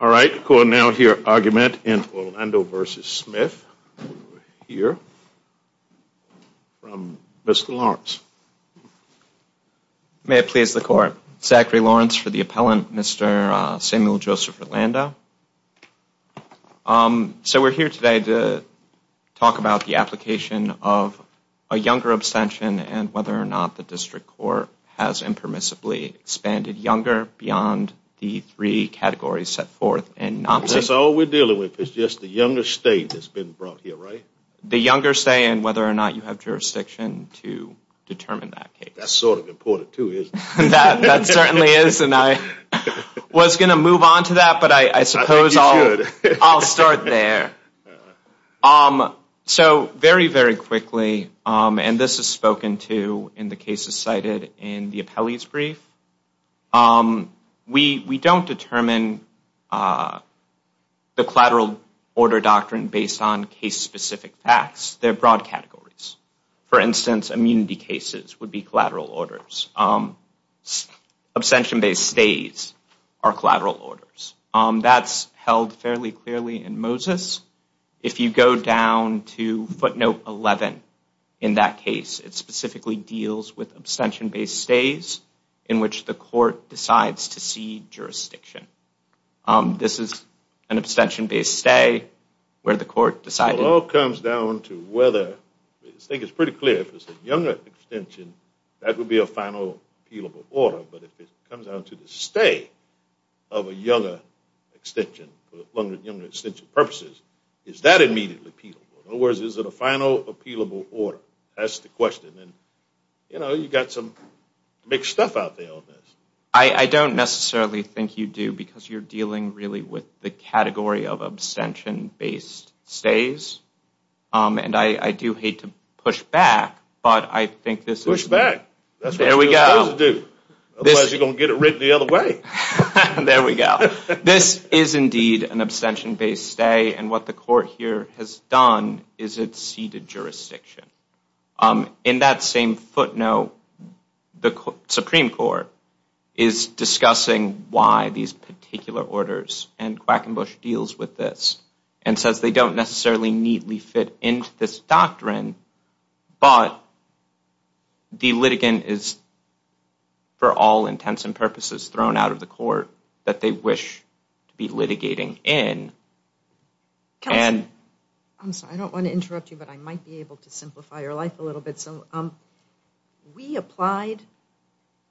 All right, we will now hear argument in Orlando v. Smith, here, from Mr. Lawrence. May it please the court, Zachary Lawrence for the appellant, Mr. Samuel Joseph Orlando. So we are here today to talk about the application of a younger abstention and whether or not the district court has impermissibly expanded younger beyond the three categories set forth in NOMS. That's all we're dealing with, it's just the younger state that's been brought here, right? The younger state and whether or not you have jurisdiction to determine that case. That's sort of important too, isn't it? That certainly is, and I was going to move on to that, but I suppose I'll start there. So very, very quickly, and this is spoken to in the cases cited in the appellee's brief, we don't determine the collateral order doctrine based on case-specific facts, they're broad categories. For instance, immunity cases would be collateral orders. Abstention-based stays are collateral orders. That's held fairly clearly in Moses. If you go down to footnote 11 in that case, it specifically deals with abstention-based stays in which the court decides to cede jurisdiction. This is an abstention-based stay where the court decided... But if it comes down to the stay of a younger extension for longer extension purposes, is that immediately appealable? In other words, is it a final appealable order? That's the question. You know, you've got some big stuff out there on this. I don't necessarily think you do because you're dealing really with the category of abstention-based stays, and I do hate to push back, but I think this is... Push back. That's what you're supposed to do, otherwise you're going to get it written the other way. There we go. This is indeed an abstention-based stay, and what the court here has done is it ceded jurisdiction. In that same footnote, the Supreme Court is discussing why these particular orders, and Quackenbush deals with this, and says they don't necessarily neatly fit into this doctrine, but the litigant is, for all intents and purposes, thrown out of the court that they wish to be litigating in, and... Kelsey, I'm sorry, I don't want to interrupt you, but I might be able to simplify your life a little bit. So we applied,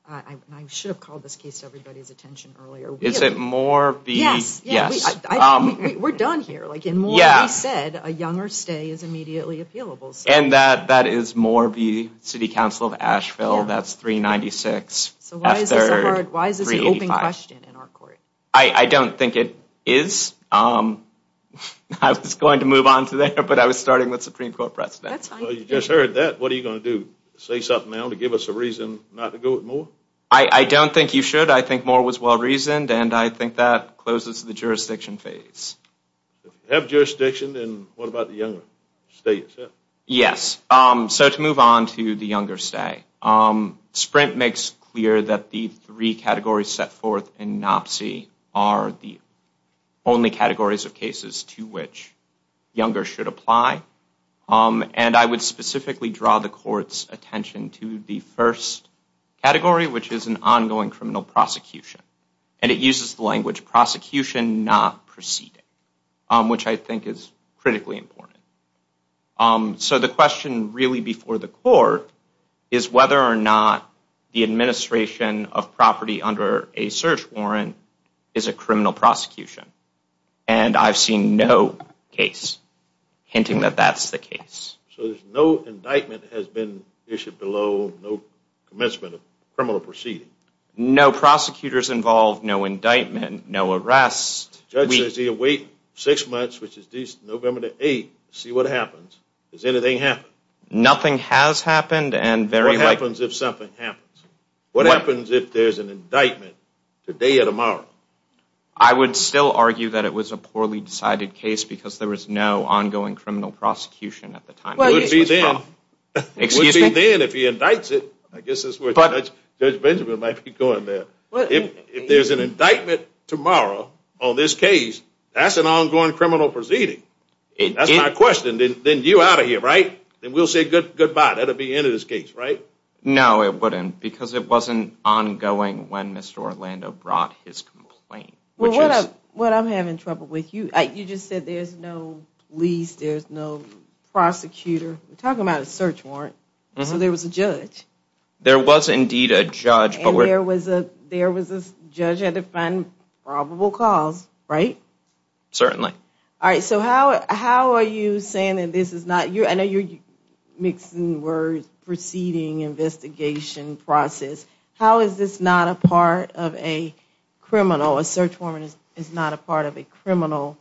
and I should have called this case to everybody's attention earlier. Is it more of the... Yes, yes. We're done here. Like, in more than we said, a younger stay is immediately appealable. And that is more the City Council of Asheville, that's 396 F3rd 385. Why is this an open question in our court? I don't think it is. I was going to move on to there, but I was starting with Supreme Court precedent. Well, you just heard that. What are you going to do? Say something now to give us a reason not to go with Moore? I don't think you should. I think Moore was well-reasoned, and I think that closes the jurisdiction phase. If you have jurisdiction, then what about the younger stay itself? Yes, so to move on to the younger stay, Sprint makes clear that the three categories set forth in NOPC are the only categories of cases to which younger should apply. And I would specifically draw the court's attention to the first category, which is an ongoing criminal prosecution. And it uses the language prosecution not proceeding, which I think is critically important. So the question really before the court is whether or not the administration of property under a search warrant is a criminal prosecution. And I've seen no case hinting that that's the case. So there's no indictment that has been issued below no commencement of criminal proceeding? No prosecutors involved, no indictment, no arrest. Judges, they await six months, which is November the 8th, to see what happens. Has anything happened? Nothing has happened. And what happens if something happens? What happens if there's an indictment today or tomorrow? I would still argue that it was a poorly decided case because there was no ongoing criminal prosecution at the time. Well, it would be then if he indicts it. I guess that's where Judge Benjamin might be going there. If there's an indictment tomorrow on this case, that's an ongoing criminal proceeding. That's my question. Then you're out of here, right? Then we'll say goodbye. That'll be the end of this case, right? No, it wouldn't because it wasn't ongoing when Mr. Orlando brought his complaint. Well, I'm having trouble with you. You just said there's no police, there's no prosecutor. We're talking about a search warrant. So there was a judge. There was indeed a judge. There was this judge had to find probable cause, right? Certainly. All right. So how are you saying that this is not you? I know you're mixing words, proceeding, investigation, process. How is this not a part of a criminal? A search warrant is not a part of a criminal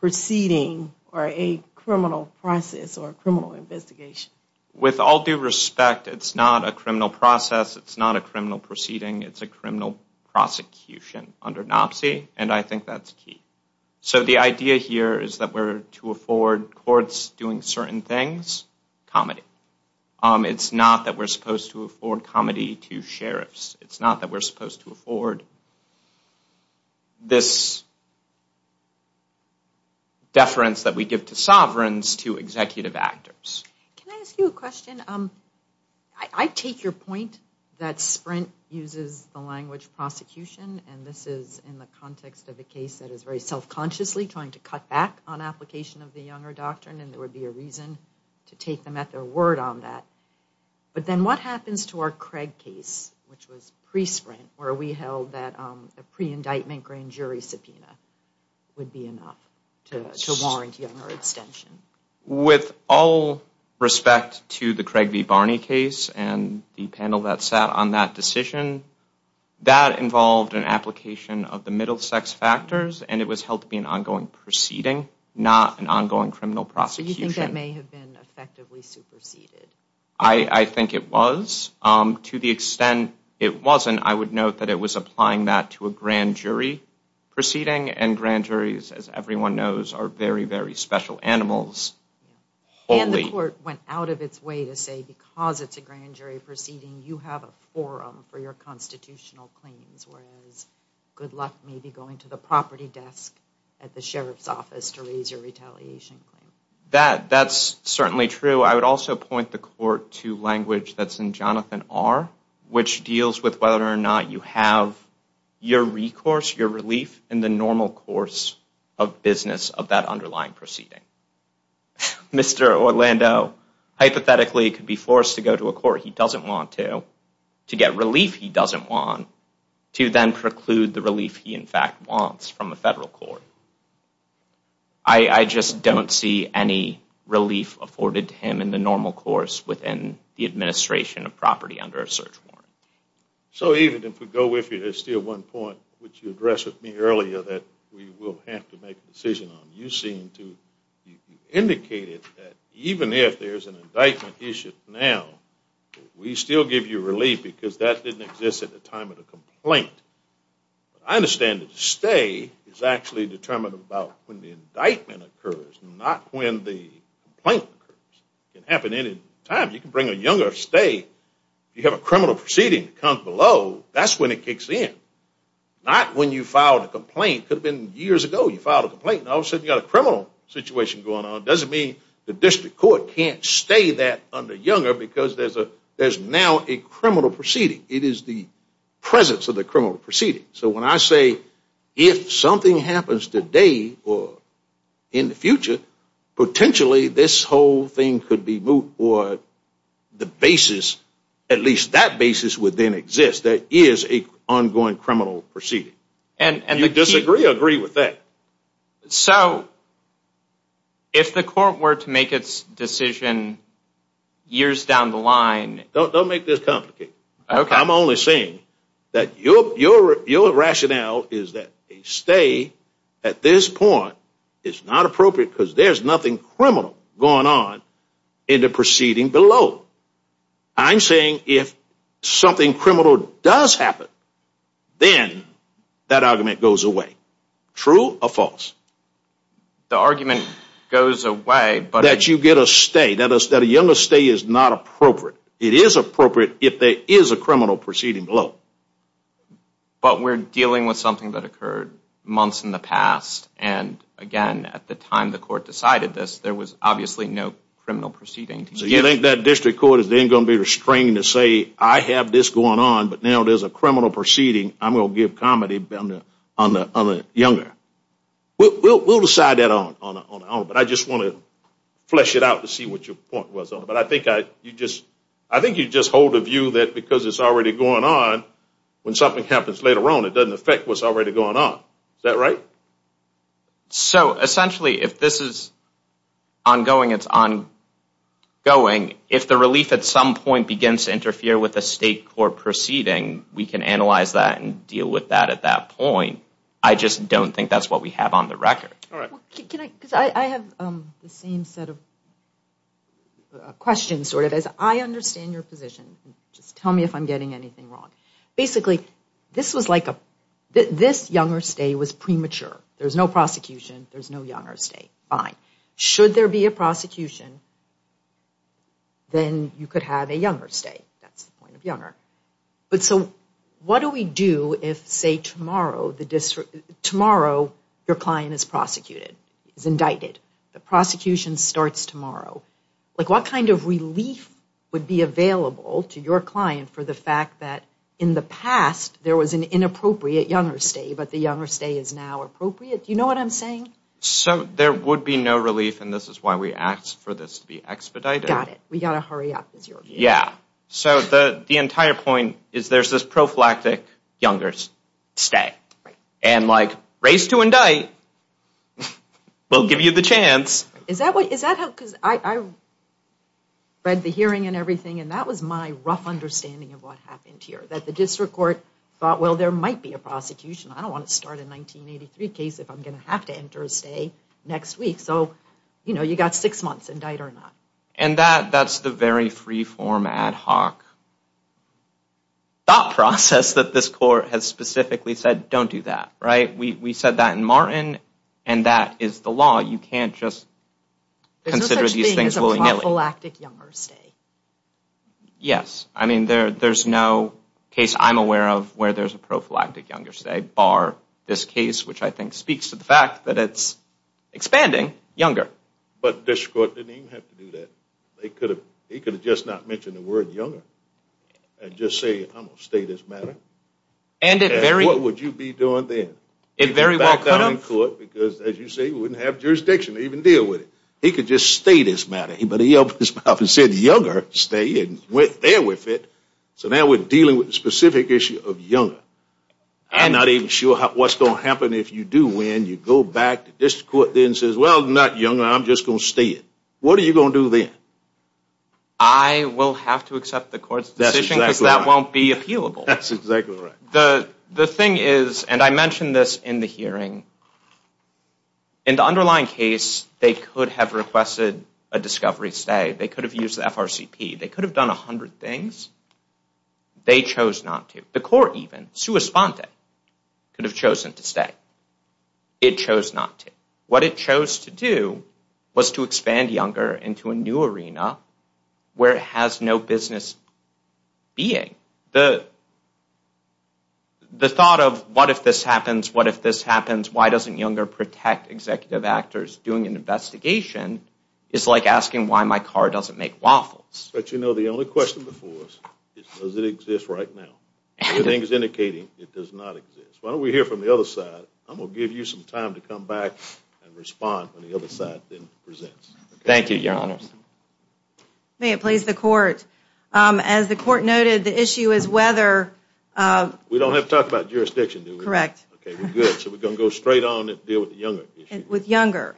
proceeding or a criminal process or a criminal investigation. With all due respect, it's not a criminal process. It's not a criminal proceeding. It's a criminal prosecution under NOPC. And I think that's key. So the idea here is that we're to afford courts doing certain things, comedy. It's not that we're supposed to afford comedy to sheriffs. It's not that we're supposed to afford this deference that we give to sovereigns to executive actors. Can I ask you a question? I take your point that Sprint uses the language prosecution. And this is in the context of a case that is very self-consciously trying to cut back on application of the Younger Doctrine. And there would be a reason to take them at their word on that. But then what happens to our Craig case, which was pre-Sprint, where we held that a pre-indictment grand jury subpoena would be enough to warrant Younger extension? With all respect to the Craig v. Barney case and the panel that sat on that decision, that involved an application of the middle sex factors. And it was held to be an ongoing proceeding, not an ongoing criminal prosecution. So you think that may have been effectively superseded? I think it was. To the extent it wasn't, I would note that it was applying that to a grand jury proceeding. And grand juries, as everyone knows, are very, very special animals. And the court went out of its way to say, because it's a grand jury proceeding, you have a forum for your constitutional claims. Whereas, good luck maybe going to the property desk at the sheriff's office to raise your retaliation claim. That's certainly true. I would also point the court to language that's in Jonathan R., which deals with whether or not you have your recourse, your relief in the normal course of business of that underlying proceeding. Mr. Orlando, hypothetically, could be forced to go to a court. He doesn't want to. To get relief he doesn't want. To then preclude the relief he, in fact, wants from a federal court. I just don't see any relief afforded to him in the normal course within the administration of property under a search warrant. So even if we go with you, there's still one point which you addressed with me earlier that we will have to make a decision on. You seem to have indicated that even if there's an indictment issued now, we still give you relief because that didn't exist at the time of the complaint. I understand that a stay is actually determined about when the indictment occurs, not when the complaint occurs. It can happen at any time. You can bring a younger stay. If you have a criminal proceeding that comes below, that's when it kicks in. Not when you filed a complaint. Could have been years ago you filed a complaint. All of a sudden you've got a criminal situation going on. It doesn't mean the district court can't stay that under younger because there's now a criminal proceeding. It is the presence of the criminal proceeding. So when I say if something happens today or in the future, potentially this whole thing could be moved or the basis, at least that basis would then exist. That is an ongoing criminal proceeding. And you disagree or agree with that? So if the court were to make its decision years down the line. Don't make this complicated. I'm only saying that your rationale is that a stay at this point is not appropriate because there's nothing criminal going on in the proceeding below. I'm saying if something criminal does happen, then that argument goes away. True or false? The argument goes away. That you get a stay. That a younger stay is not appropriate. It is appropriate if there is a criminal proceeding below. But we're dealing with something that occurred months in the past. And again, at the time the court decided this, there was obviously no criminal proceeding. So you think that district court is then going to be restrained to say, I have this going on, but now there's a criminal proceeding. I'm going to give comedy on the younger. We'll decide that on our own. But I just want to flesh it out to see what your point was. But I think you just hold a view that because it's already going on, when something happens later on, it doesn't affect what's already going on. Is that right? So essentially, if this is ongoing, it's ongoing. If the relief at some point begins to interfere with a state court proceeding, we can analyze that and deal with that at that point. I just don't think that's what we have on the record. All right. Can I, because I have the same set of questions, sort of, as I understand your position. Just tell me if I'm getting anything wrong. Basically, this was like a, this younger stay was premature. There's no prosecution. There's no younger stay. Fine. Should there be a prosecution, then you could have a younger stay. That's the point of younger. But so what do we do if, say, tomorrow the district, tomorrow your client is prosecuted, is indicted. The prosecution starts tomorrow. Like, what kind of relief would be available to your client for the fact that in the past there was an inappropriate younger stay, but the younger stay is now appropriate? Do you know what I'm saying? So there would be no relief. And this is why we asked for this to be expedited. Got it. We got to hurry up, is your view. Yeah. So the entire point is there's this prophylactic younger stay. And like, race to indict will give you the chance. Is that what, is that how, because I read the hearing and everything, and that was my rough understanding of what happened here. That the district court thought, well, there might be a prosecution. I don't want to start a 1983 case if I'm going to have to enter a stay next week. So, you know, you got six months, indict or not. And that, that's the very free-form, ad hoc thought process that this court has specifically said, don't do that. Right? We said that in Martin, and that is the law. You can't just consider these things willy-nilly. There's no such thing as a prophylactic younger stay. Yes. I mean, there's no case I'm aware of where there's a prophylactic younger stay, bar this case, which I think speaks to the fact that it's expanding younger. But district court didn't even have to do that. They could have, they could have just not mentioned the word younger. And just say, I'm going to stay this matter. And it very. What would you be doing then? It very well could have. Because as you say, we wouldn't have jurisdiction to even deal with it. He could just stay this matter. But he opened his mouth and said, younger stay, and went there with it. So now we're dealing with the specific issue of younger. I'm not even sure what's going to happen if you do win. You go back to district court and says, well, not younger. I'm just going to stay it. What are you going to do then? I will have to accept the court's decision because that won't be appealable. That's exactly right. The thing is, and I mentioned this in the hearing, in the underlying case, they could have requested a discovery stay. They could have used the FRCP. They could have done 100 things. They chose not to. The court even, sua sponte, could have chosen to stay. It chose not to. What it chose to do was to expand younger into a new arena where it has no business being. The thought of what if this happens, what if this happens, why doesn't younger protect executive actors doing an investigation is like asking why my car doesn't make waffles. But you know, the only question before us is, does it exist right now? Everything is indicating it does not exist. Why don't we hear from the other side? I'm going to give you some time to come back and respond when the other side presents. Thank you, your honors. May it please the court. As the court noted, the issue is whether... We don't have to talk about jurisdiction, do we? Correct. Okay, we're good. So we're going to go straight on and deal with the younger issue. With younger.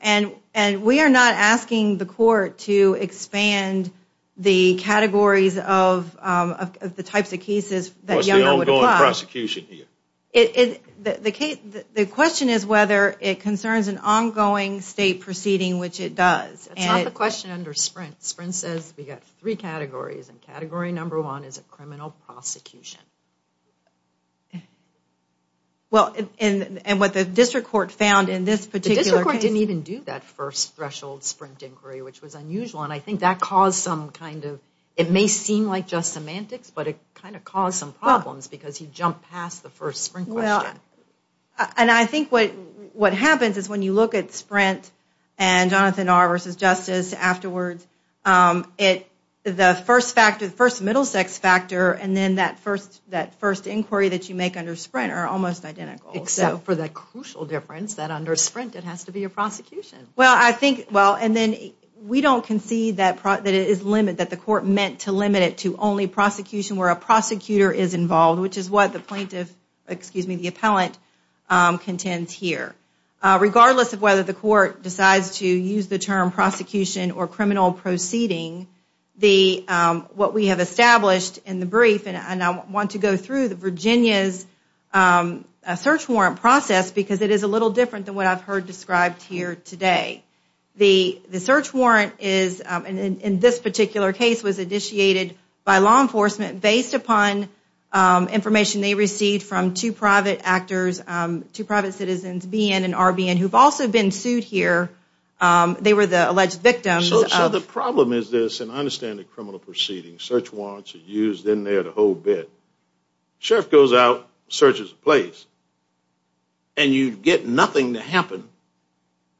We are not asking the court to expand the categories of the types of cases that younger would apply. What's the ongoing prosecution here? The question is whether it concerns an ongoing state proceeding, which it does. It's not the question under Sprint. Sprint says we got three categories, and category number one is a criminal prosecution. Well, and what the district court found in this particular case... The district court didn't even do that first threshold Sprint inquiry, which was unusual, and I think that caused some kind of... It may seem like just semantics, but it kind of caused some problems because he jumped past the first Sprint question. And I think what happens is when you look at Sprint and Jonathan R versus Justice afterwards, the first factor, the first middle sex factor, and then that first inquiry that you make under Sprint are almost identical. Except for the crucial difference that under Sprint it has to be a prosecution. Well, I think... Well, and then we don't concede that it is limited, that the court meant to limit it to only prosecution where a prosecutor is involved, which is what the plaintiff... Excuse me, the appellant contends here. Regardless of whether the court decides to use the term prosecution or criminal proceeding, what we have established in the brief, and I want to go through the Virginia's search warrant process because it is a little different than what I've heard described here today. The search warrant is, in this particular case, was initiated by law enforcement based upon information they received from two private actors, two private citizens, BN and RBN, who've also been sued here. They were the alleged victims of... So the problem is this, and I understand the criminal proceeding, search warrants are used in there the whole bit. Sheriff goes out, searches the place, and you get nothing to happen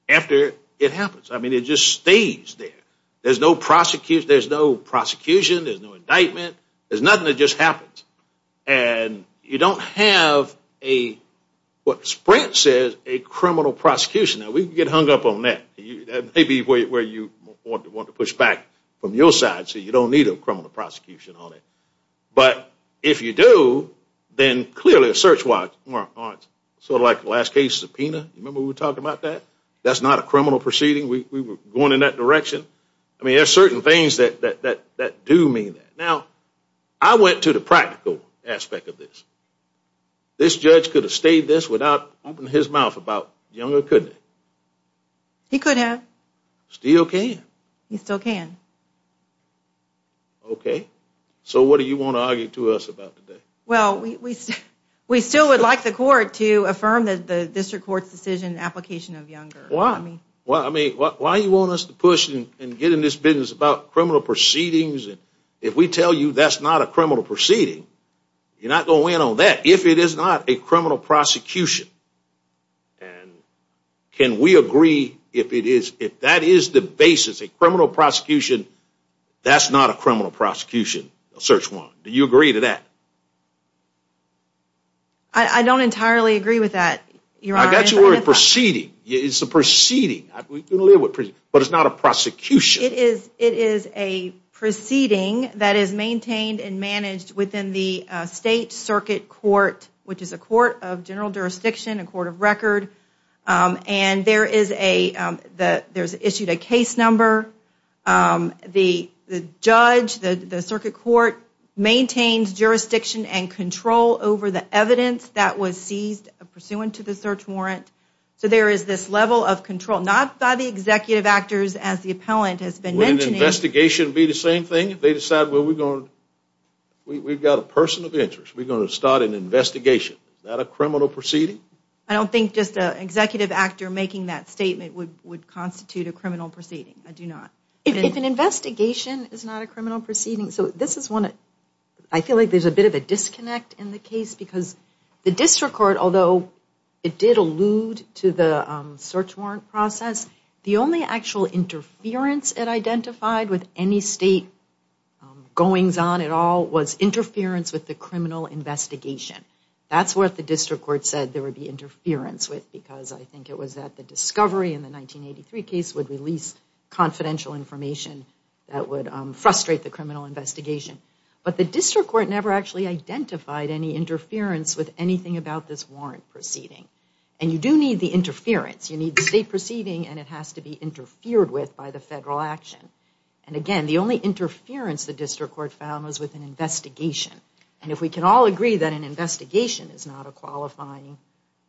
after it happens. I mean, it just stays there. There's no prosecution, there's no indictment, there's nothing that just happens. And you don't have a, what Sprint says, a criminal prosecution. Now we can get hung up on that. That may be where you want to push back from your side so you don't need a criminal prosecution on it. But if you do, then clearly a search warrant, sort of like the last case subpoena, remember we were talking about that? That's not a criminal proceeding, we were going in that direction. I mean, there are certain things that do mean that. Now, I went to the practical aspect of this. This judge could have stayed this without opening his mouth about Younger, couldn't he? He could have. Still can. He still can. Okay, so what do you want to argue to us about today? Well, we still would like the court to affirm that the district court's decision application of Younger. Well, I mean, why do you want us to push and get in this business about criminal proceedings? And if we tell you that's not a criminal proceeding, you're not going to win on that if it is not a criminal prosecution. And can we agree if that is the basis, a criminal prosecution, that's not a criminal prosecution, a search warrant? Do you agree to that? I don't entirely agree with that, Your Honor. I got you a proceeding. It's a proceeding. But it's not a prosecution. It is a proceeding that is maintained and managed within the state circuit court, which is a court of general jurisdiction, a court of record. And there's issued a case number. The judge, the circuit court, maintains jurisdiction and control over the evidence that was seized pursuant to the search warrant. So there is this level of control, not by the executive actors, as the appellant has been mentioning. Would an investigation be the same thing if they decide, we've got a person of interest, we're going to start an investigation. Is that a criminal proceeding? I don't think just an executive actor making that statement would constitute a criminal proceeding. I do not. If an investigation is not a criminal proceeding. So this is one, I feel like there's a bit of a disconnect in the case because the district court, although it did allude to the search warrant process, the only actual interference it identified with any state goings on at all was interference with the criminal investigation. That's what the district court said there would be interference with because I think it was that the discovery in the 1983 case would release confidential information that would frustrate the criminal investigation. But the district court never actually identified any interference with anything about this warrant proceeding. And you do need the interference. You need the state proceeding and it has to be interfered with by the federal action. And again, the only interference the district court found was with an investigation. And if we can all agree that an investigation is not a qualifying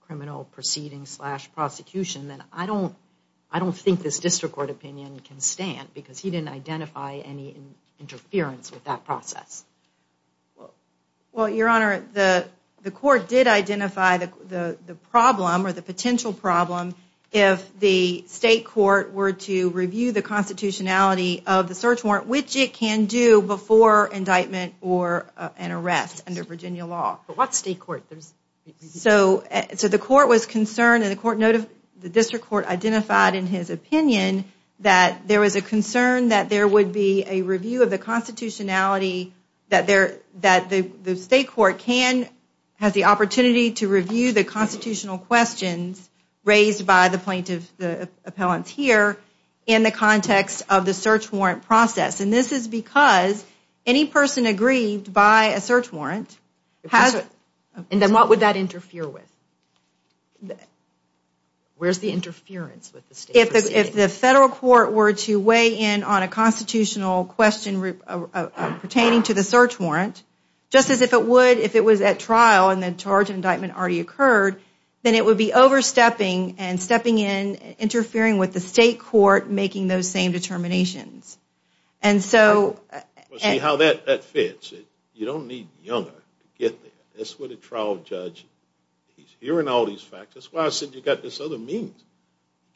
criminal proceeding slash prosecution, then I don't think this district court opinion can stand because he didn't identify any interference with that process. Well, Your Honor, the court did identify the problem or the potential problem if the state court were to review the constitutionality of the search warrant, which it can do before indictment or an arrest under Virginia law. But what state court? So the court was concerned and the district court identified in his opinion that there was a concern that there would be a review of the constitutionality that the state court has the opportunity to review the constitutional questions raised by the plaintiff, the appellants here in the context of the search warrant process. And this is because any person aggrieved by a search warrant has... And then what would that interfere with? Where's the interference with the state proceeding? If the federal court were to weigh in on a constitutional question pertaining to the search warrant, just as if it would if it was at trial and the charge of indictment already occurred, then it would be overstepping and stepping in, interfering with the state court making those same determinations. And so... See how that fits. You don't need younger to get there. That's what a trial judge... He's hearing all these facts. That's why I said you got this other means.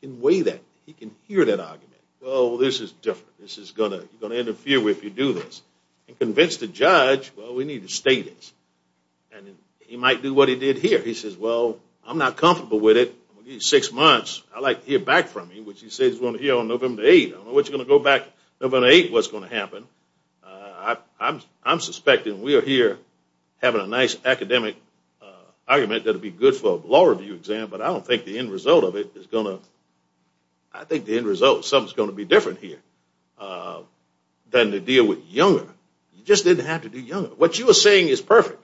You can weigh that. You can hear that argument. Well, this is different. This is going to interfere with you if you do this. And convince the judge, well, we need to state this. And he might do what he did here. He says, well, I'm not comfortable with it. I'm going to give you six months. I'd like to hear back from you, which he says he's going to hear on November 8th. I don't know what's going to go back. November 8th, what's going to happen? I'm suspecting we are here having a nice academic argument that would be good for a law review exam, but I don't think the end result of it is going to... I think the end result, something's going to be different here than to deal with younger. You just didn't have to do younger. What you were saying is perfect.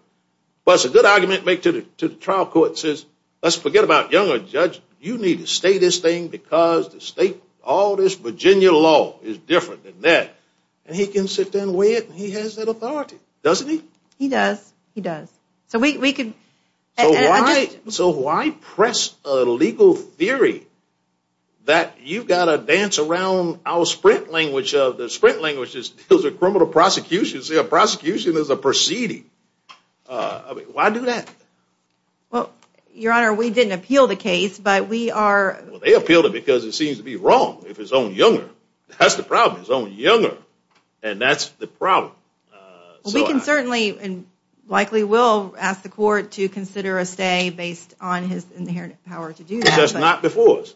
But it's a good argument to make to the trial court. It says, let's forget about younger judge. You need to state this thing because the state, all this Virginia law is different than that. And he can sit down and weigh it. And he has that authority, doesn't he? He does. He does. So we could... So why press a legal theory that you've got to dance around our sprint language of... The sprint language is those are criminal prosecutions. A prosecution is a proceeding. Why do that? Well, Your Honor, we didn't appeal the case, but we are... They appealed it because it seems to be wrong if it's only younger. That's the problem. It's only younger. And that's the problem. We can certainly and likely will ask the court to consider a stay. Based on his inherent power to do that. That's not before us.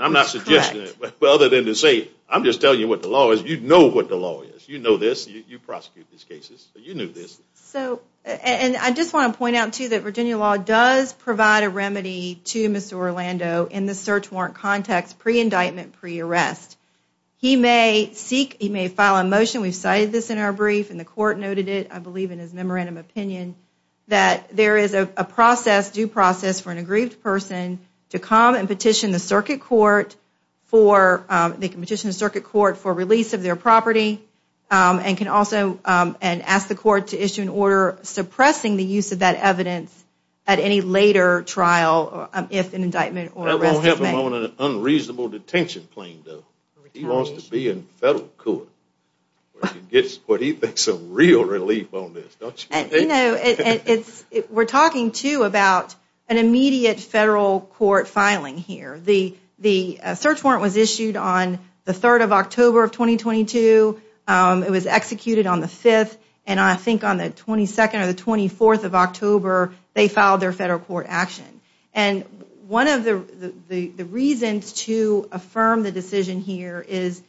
I'm not suggesting it. But other than to say, I'm just telling you what the law is. You know what the law is. You know this. You prosecute these cases. You knew this. So, and I just want to point out, too, that Virginia law does provide a remedy to Mr. Orlando in the search warrant context, pre-indictment, pre-arrest. He may seek, he may file a motion. We've cited this in our brief and the court noted it, I believe in his memorandum opinion, that there is a process, due process, for an aggrieved person to come and petition the circuit court for, they can petition the circuit court for release of their property and can also, and ask the court to issue an order suppressing the use of that evidence at any later trial if an indictment or arrest is made. I don't want to have a moment of unreasonable detention claim, though. He wants to be in federal court. Where he gets what he thinks is real relief on this, don't you think? You know, it's, we're talking, too, about an immediate federal court filing here. The search warrant was issued on the 3rd of October of 2022. It was executed on the 5th and I think on the 22nd or the 24th of October, they filed their federal court action. And one of the reasons to affirm the decision here is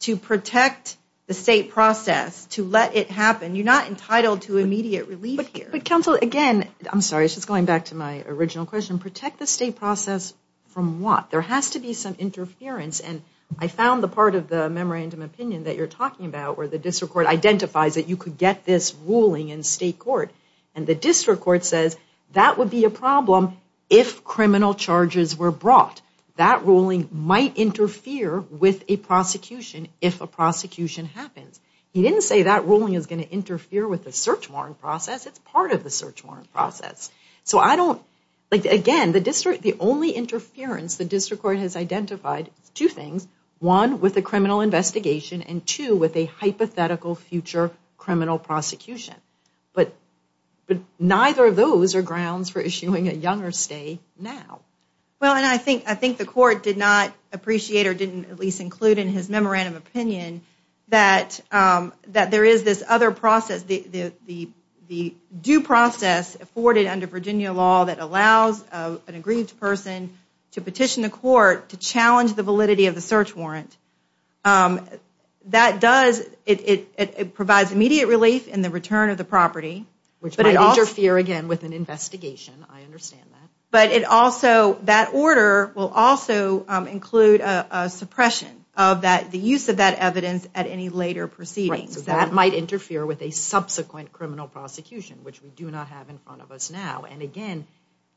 to protect the state process, to let it happen. You're not entitled to immediate relief here. But counsel, again, I'm sorry, just going back to my original question, protect the state process from what? There has to be some interference. And I found the part of the memorandum opinion that you're talking about, where the district court identifies that you could get this ruling in state court. And the district court says that would be a problem if criminal charges were brought. That ruling might interfere with a prosecution if a prosecution happens. He didn't say that ruling is going to interfere with the search warrant process. It's part of the search warrant process. So I don't, like, again, the district, the only interference the district court has identified, two things, one, with a criminal investigation, and two, with a hypothetical future criminal prosecution. But neither of those are grounds for issuing a younger stay now. Well, and I think, I think the court did not appreciate or didn't at least include in his memorandum opinion that there is this other process, the due process afforded under Virginia law that allows an aggrieved person to petition the court to challenge the validity of the search warrant. That does, it provides immediate relief in the return of the property. Which might interfere, again, with an investigation. I understand that. But it also, that order will also include a suppression of that, the use of that evidence at any later proceedings. That might interfere with a subsequent criminal prosecution, which we do not have in front of us now. And again,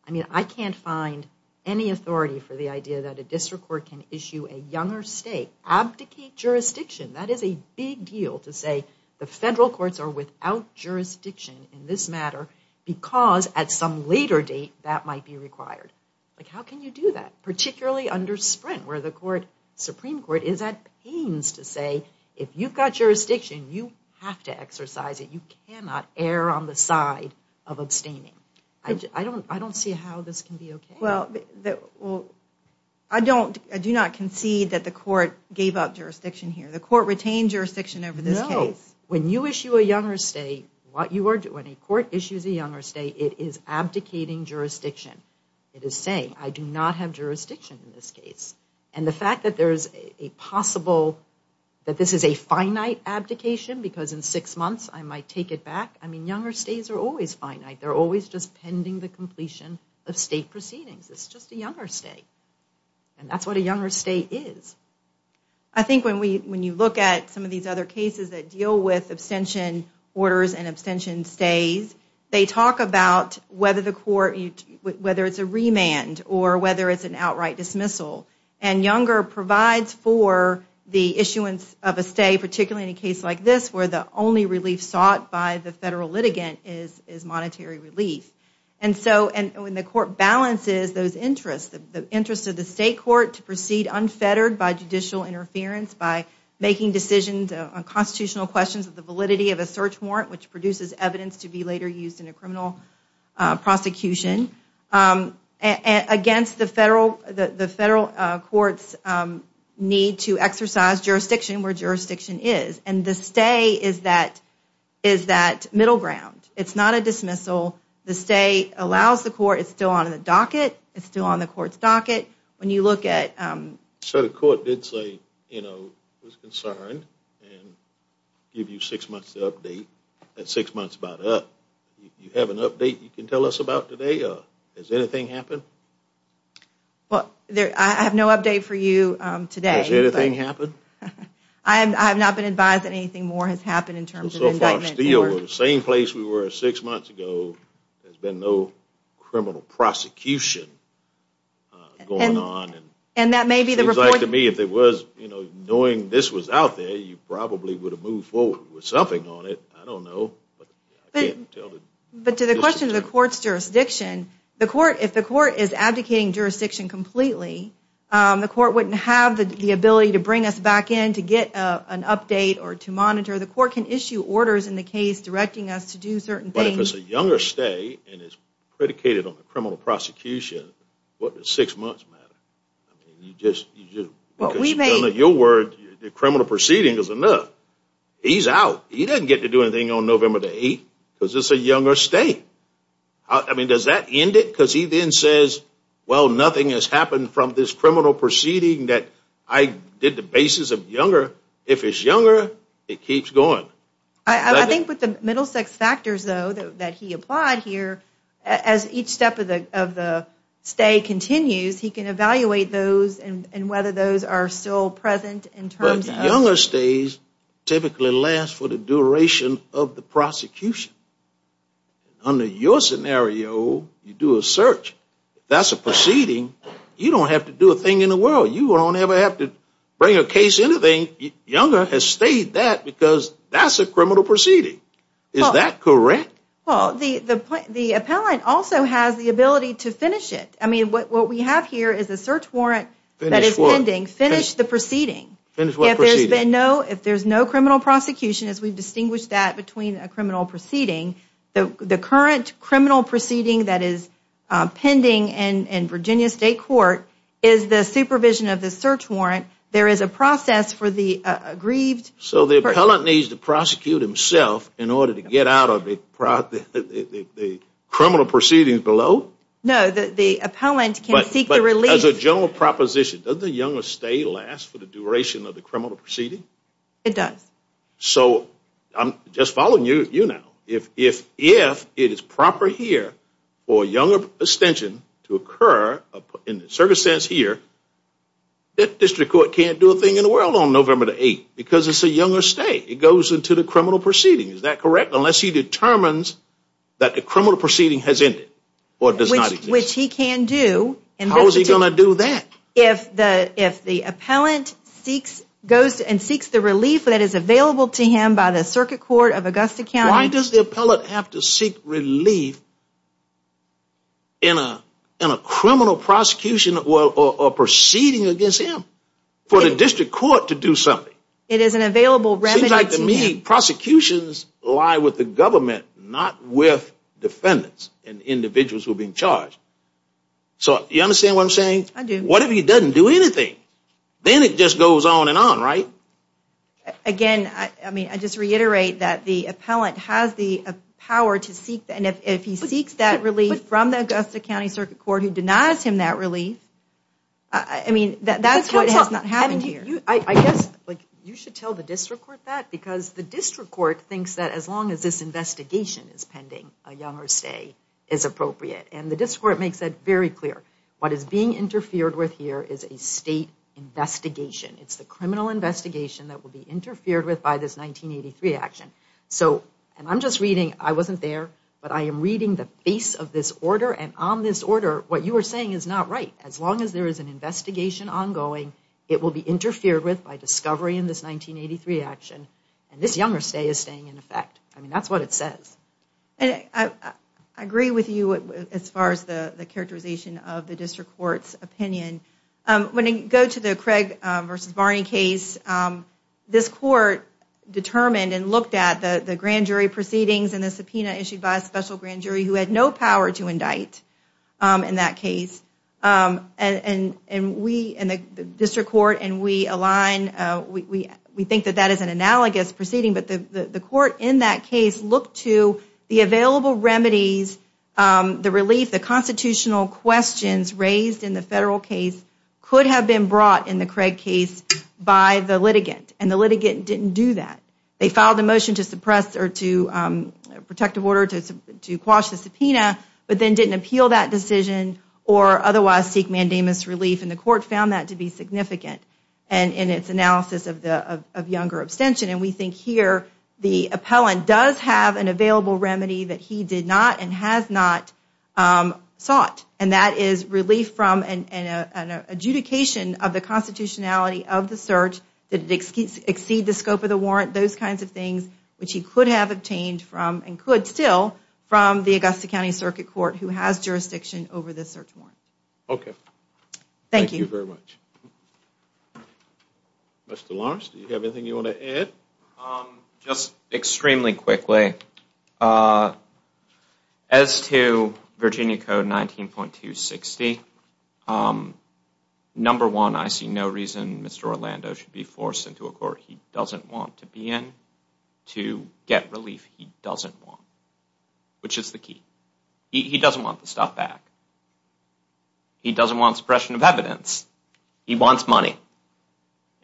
I mean, I can't find any authority for the idea that a district court can issue a younger stay, abdicate jurisdiction. That is a big deal to say the federal courts are without jurisdiction in this matter because at some later date that might be required. Like, how can you do that? Particularly under Sprint, where the court, Supreme Court is at pains to say, if you've got jurisdiction, you have to exercise it. You cannot err on the side of abstaining. I don't, I don't see how this can be okay. Well, I don't, I do not concede that the court gave up jurisdiction here. The court retained jurisdiction over this case. When you issue a younger stay, what you are doing, a court issues a younger stay, it is abdicating jurisdiction. It is saying, I do not have jurisdiction in this case. And the fact that there is a possible, that this is a finite abdication, because in six months I might take it back. I mean, younger stays are always finite. They're always just pending the completion of state proceedings. It's just a younger stay. And that's what a younger stay is. I think when we, when you look at some of these other cases that deal with abstention orders and abstention stays, they talk about whether the court, whether it's a remand or whether it's an outright dismissal. And younger provides for the issuance of a stay, particularly in a case like this, where the only relief sought by the federal litigant is, is monetary relief. And so, and when the court balances those interests, the interest of the state court to proceed unfettered by judicial interference, by making decisions on constitutional questions of the validity of a search warrant, which produces evidence to be later used in a criminal prosecution, against the federal, the federal court's need to exercise jurisdiction where jurisdiction is. And the stay is that, is that middle ground. It's not a dismissal. The stay allows the court, it's still on the docket. It's still on the court's docket. When you look at... So the court did say, you know, it was concerned and give you six months to update. That's six months about up. You have an update you can tell us about today? Or has anything happened? Well, there, I have no update for you today. Has anything happened? I have not been advised that anything more has happened in terms of indictments. So far still, the same place we were six months ago, there's been no criminal prosecution going on. And, and that may be the... Seems like to me, if it was, you know, knowing this was out there, you probably would have moved forward with something on it. I don't know. But to the question of the court's jurisdiction, the court, if the court is abdicating jurisdiction completely, the court wouldn't have the ability to bring us back in to get an update or to monitor. The court can issue orders in the case, directing us to do certain things. If it's a younger stay, and it's predicated on the criminal prosecution, what does six months matter? I mean, you just, you just... Well, we may... Your word, the criminal proceeding is enough. He's out. He doesn't get to do anything on November the 8th, because it's a younger stay. I mean, does that end it? Because he then says, well, nothing has happened from this criminal proceeding that I did the basis of younger. If it's younger, it keeps going. I think with the middle sex factors, though, that he applied here, as each step of the stay continues, he can evaluate those, and whether those are still present in terms of... But younger stays typically last for the duration of the prosecution. Under your scenario, you do a search. If that's a proceeding, you don't have to do a thing in the world. You don't ever have to bring a case in a thing. Younger has stayed that because that's a criminal proceeding. Is that correct? Well, the appellant also has the ability to finish it. I mean, what we have here is a search warrant that is pending. Finish the proceeding. Finish what proceeding? If there's no criminal prosecution, as we've distinguished that between a criminal proceeding, the current criminal proceeding that is pending in Virginia State Court is the supervision of the search warrant. There is a process for the aggrieved... So the appellant needs to prosecute himself in order to get out of the criminal proceedings below? No, the appellant can seek the release... As a general proposition, does the younger stay last for the duration of the criminal proceeding? It does. So I'm just following you now. If it is proper here for a younger extension to occur in the circumstance here, that district court can't do a thing in the world on November the 8th because it's a younger stay. It goes into the criminal proceeding. Unless he determines that the criminal proceeding has ended or does not exist. Which he can do. And how is he going to do that? If the appellant goes and seeks the relief that is available to him by the Circuit Court of Augusta County... Why does the appellant have to seek relief in a criminal prosecution or proceeding against him It is an available remedy to him. Prosecutions lie with the government, not with defendants and individuals who are being charged. So you understand what I'm saying? I do. What if he doesn't do anything? Then it just goes on and on, right? Again, I just reiterate that the appellant has the power to seek... And if he seeks that relief from the Augusta County Circuit Court who denies him that relief, that's what has not happened here. I guess you should tell the district court that because the district court thinks that as long as this investigation is pending, a younger stay is appropriate. And the district court makes that very clear. What is being interfered with here is a state investigation. It's the criminal investigation that will be interfered with by this 1983 action. So, and I'm just reading, I wasn't there, but I am reading the face of this order. And on this order, what you are saying is not right. As long as there is an investigation ongoing, it will be interfered with by discovery in this 1983 action. This younger stay is staying in effect. I mean, that's what it says. And I agree with you as far as the characterization of the district court's opinion. When you go to the Craig versus Barney case, this court determined and looked at the grand jury proceedings and the subpoena issued by a special grand jury who had no power to indict in that case. And we, and the district court, and we align, we think that that is an analogous proceeding, but the court in that case looked to the available remedies, the relief, the constitutional questions raised in the federal case could have been brought in the Craig case by the litigant. And the litigant didn't do that. They filed a motion to suppress or to protective order to quash the subpoena, but then didn't appeal that decision or otherwise seek mandamus relief. And the court found that to be significant. And in its analysis of younger abstention, and we think here the appellant does have an available remedy that he did not and has not sought. And that is relief from an adjudication of the constitutionality of the search, that it exceeds the scope of the warrant, those kinds of things, which he could have obtained from, and could still, from the Augusta County Circuit Court who has jurisdiction over the search warrant. Okay. Thank you very much. Mr. Lawrence, do you have anything you want to add? Just extremely quickly. As to Virginia Code 19.260, number one, I see no reason Mr. Orlando should be forced into a court he doesn't want to be in to get relief he doesn't want, which is the key. He doesn't want the stuff back. He doesn't want suppression of evidence. He wants money.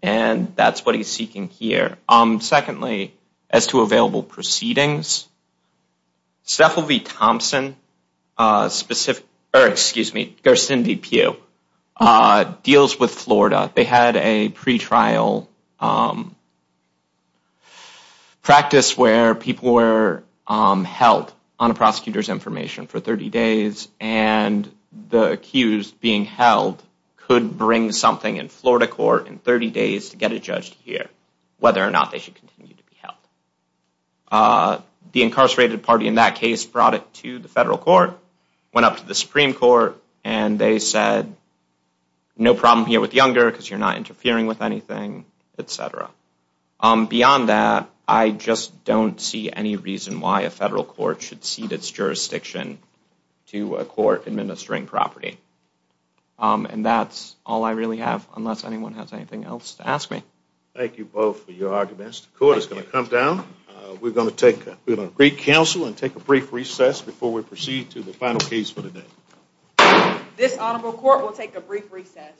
And that's what he's seeking here. Secondly, as to available proceedings, Steffel v. Thompson specific, or excuse me, Garcindy Pew deals with Florida. They had a pre-trial practice where people were held on a prosecutor's information for 30 days. And the accused being held could bring something in Florida court in 30 days to get it judged here, whether or not they should continue to be held. The incarcerated party in that case brought it to the federal court, went up to the Supreme Court, and they said, no problem here with Younger because you're not interfering with anything, et cetera. Beyond that, I just don't see any reason why a federal court should cede its jurisdiction to a court administering property. And that's all I really have, unless anyone has anything else to ask me. Thank you both for your arguments. The court is going to come down. We're going to take a brief counsel and take a brief recess before we proceed to the final case for the day. This honorable court will take a brief recess.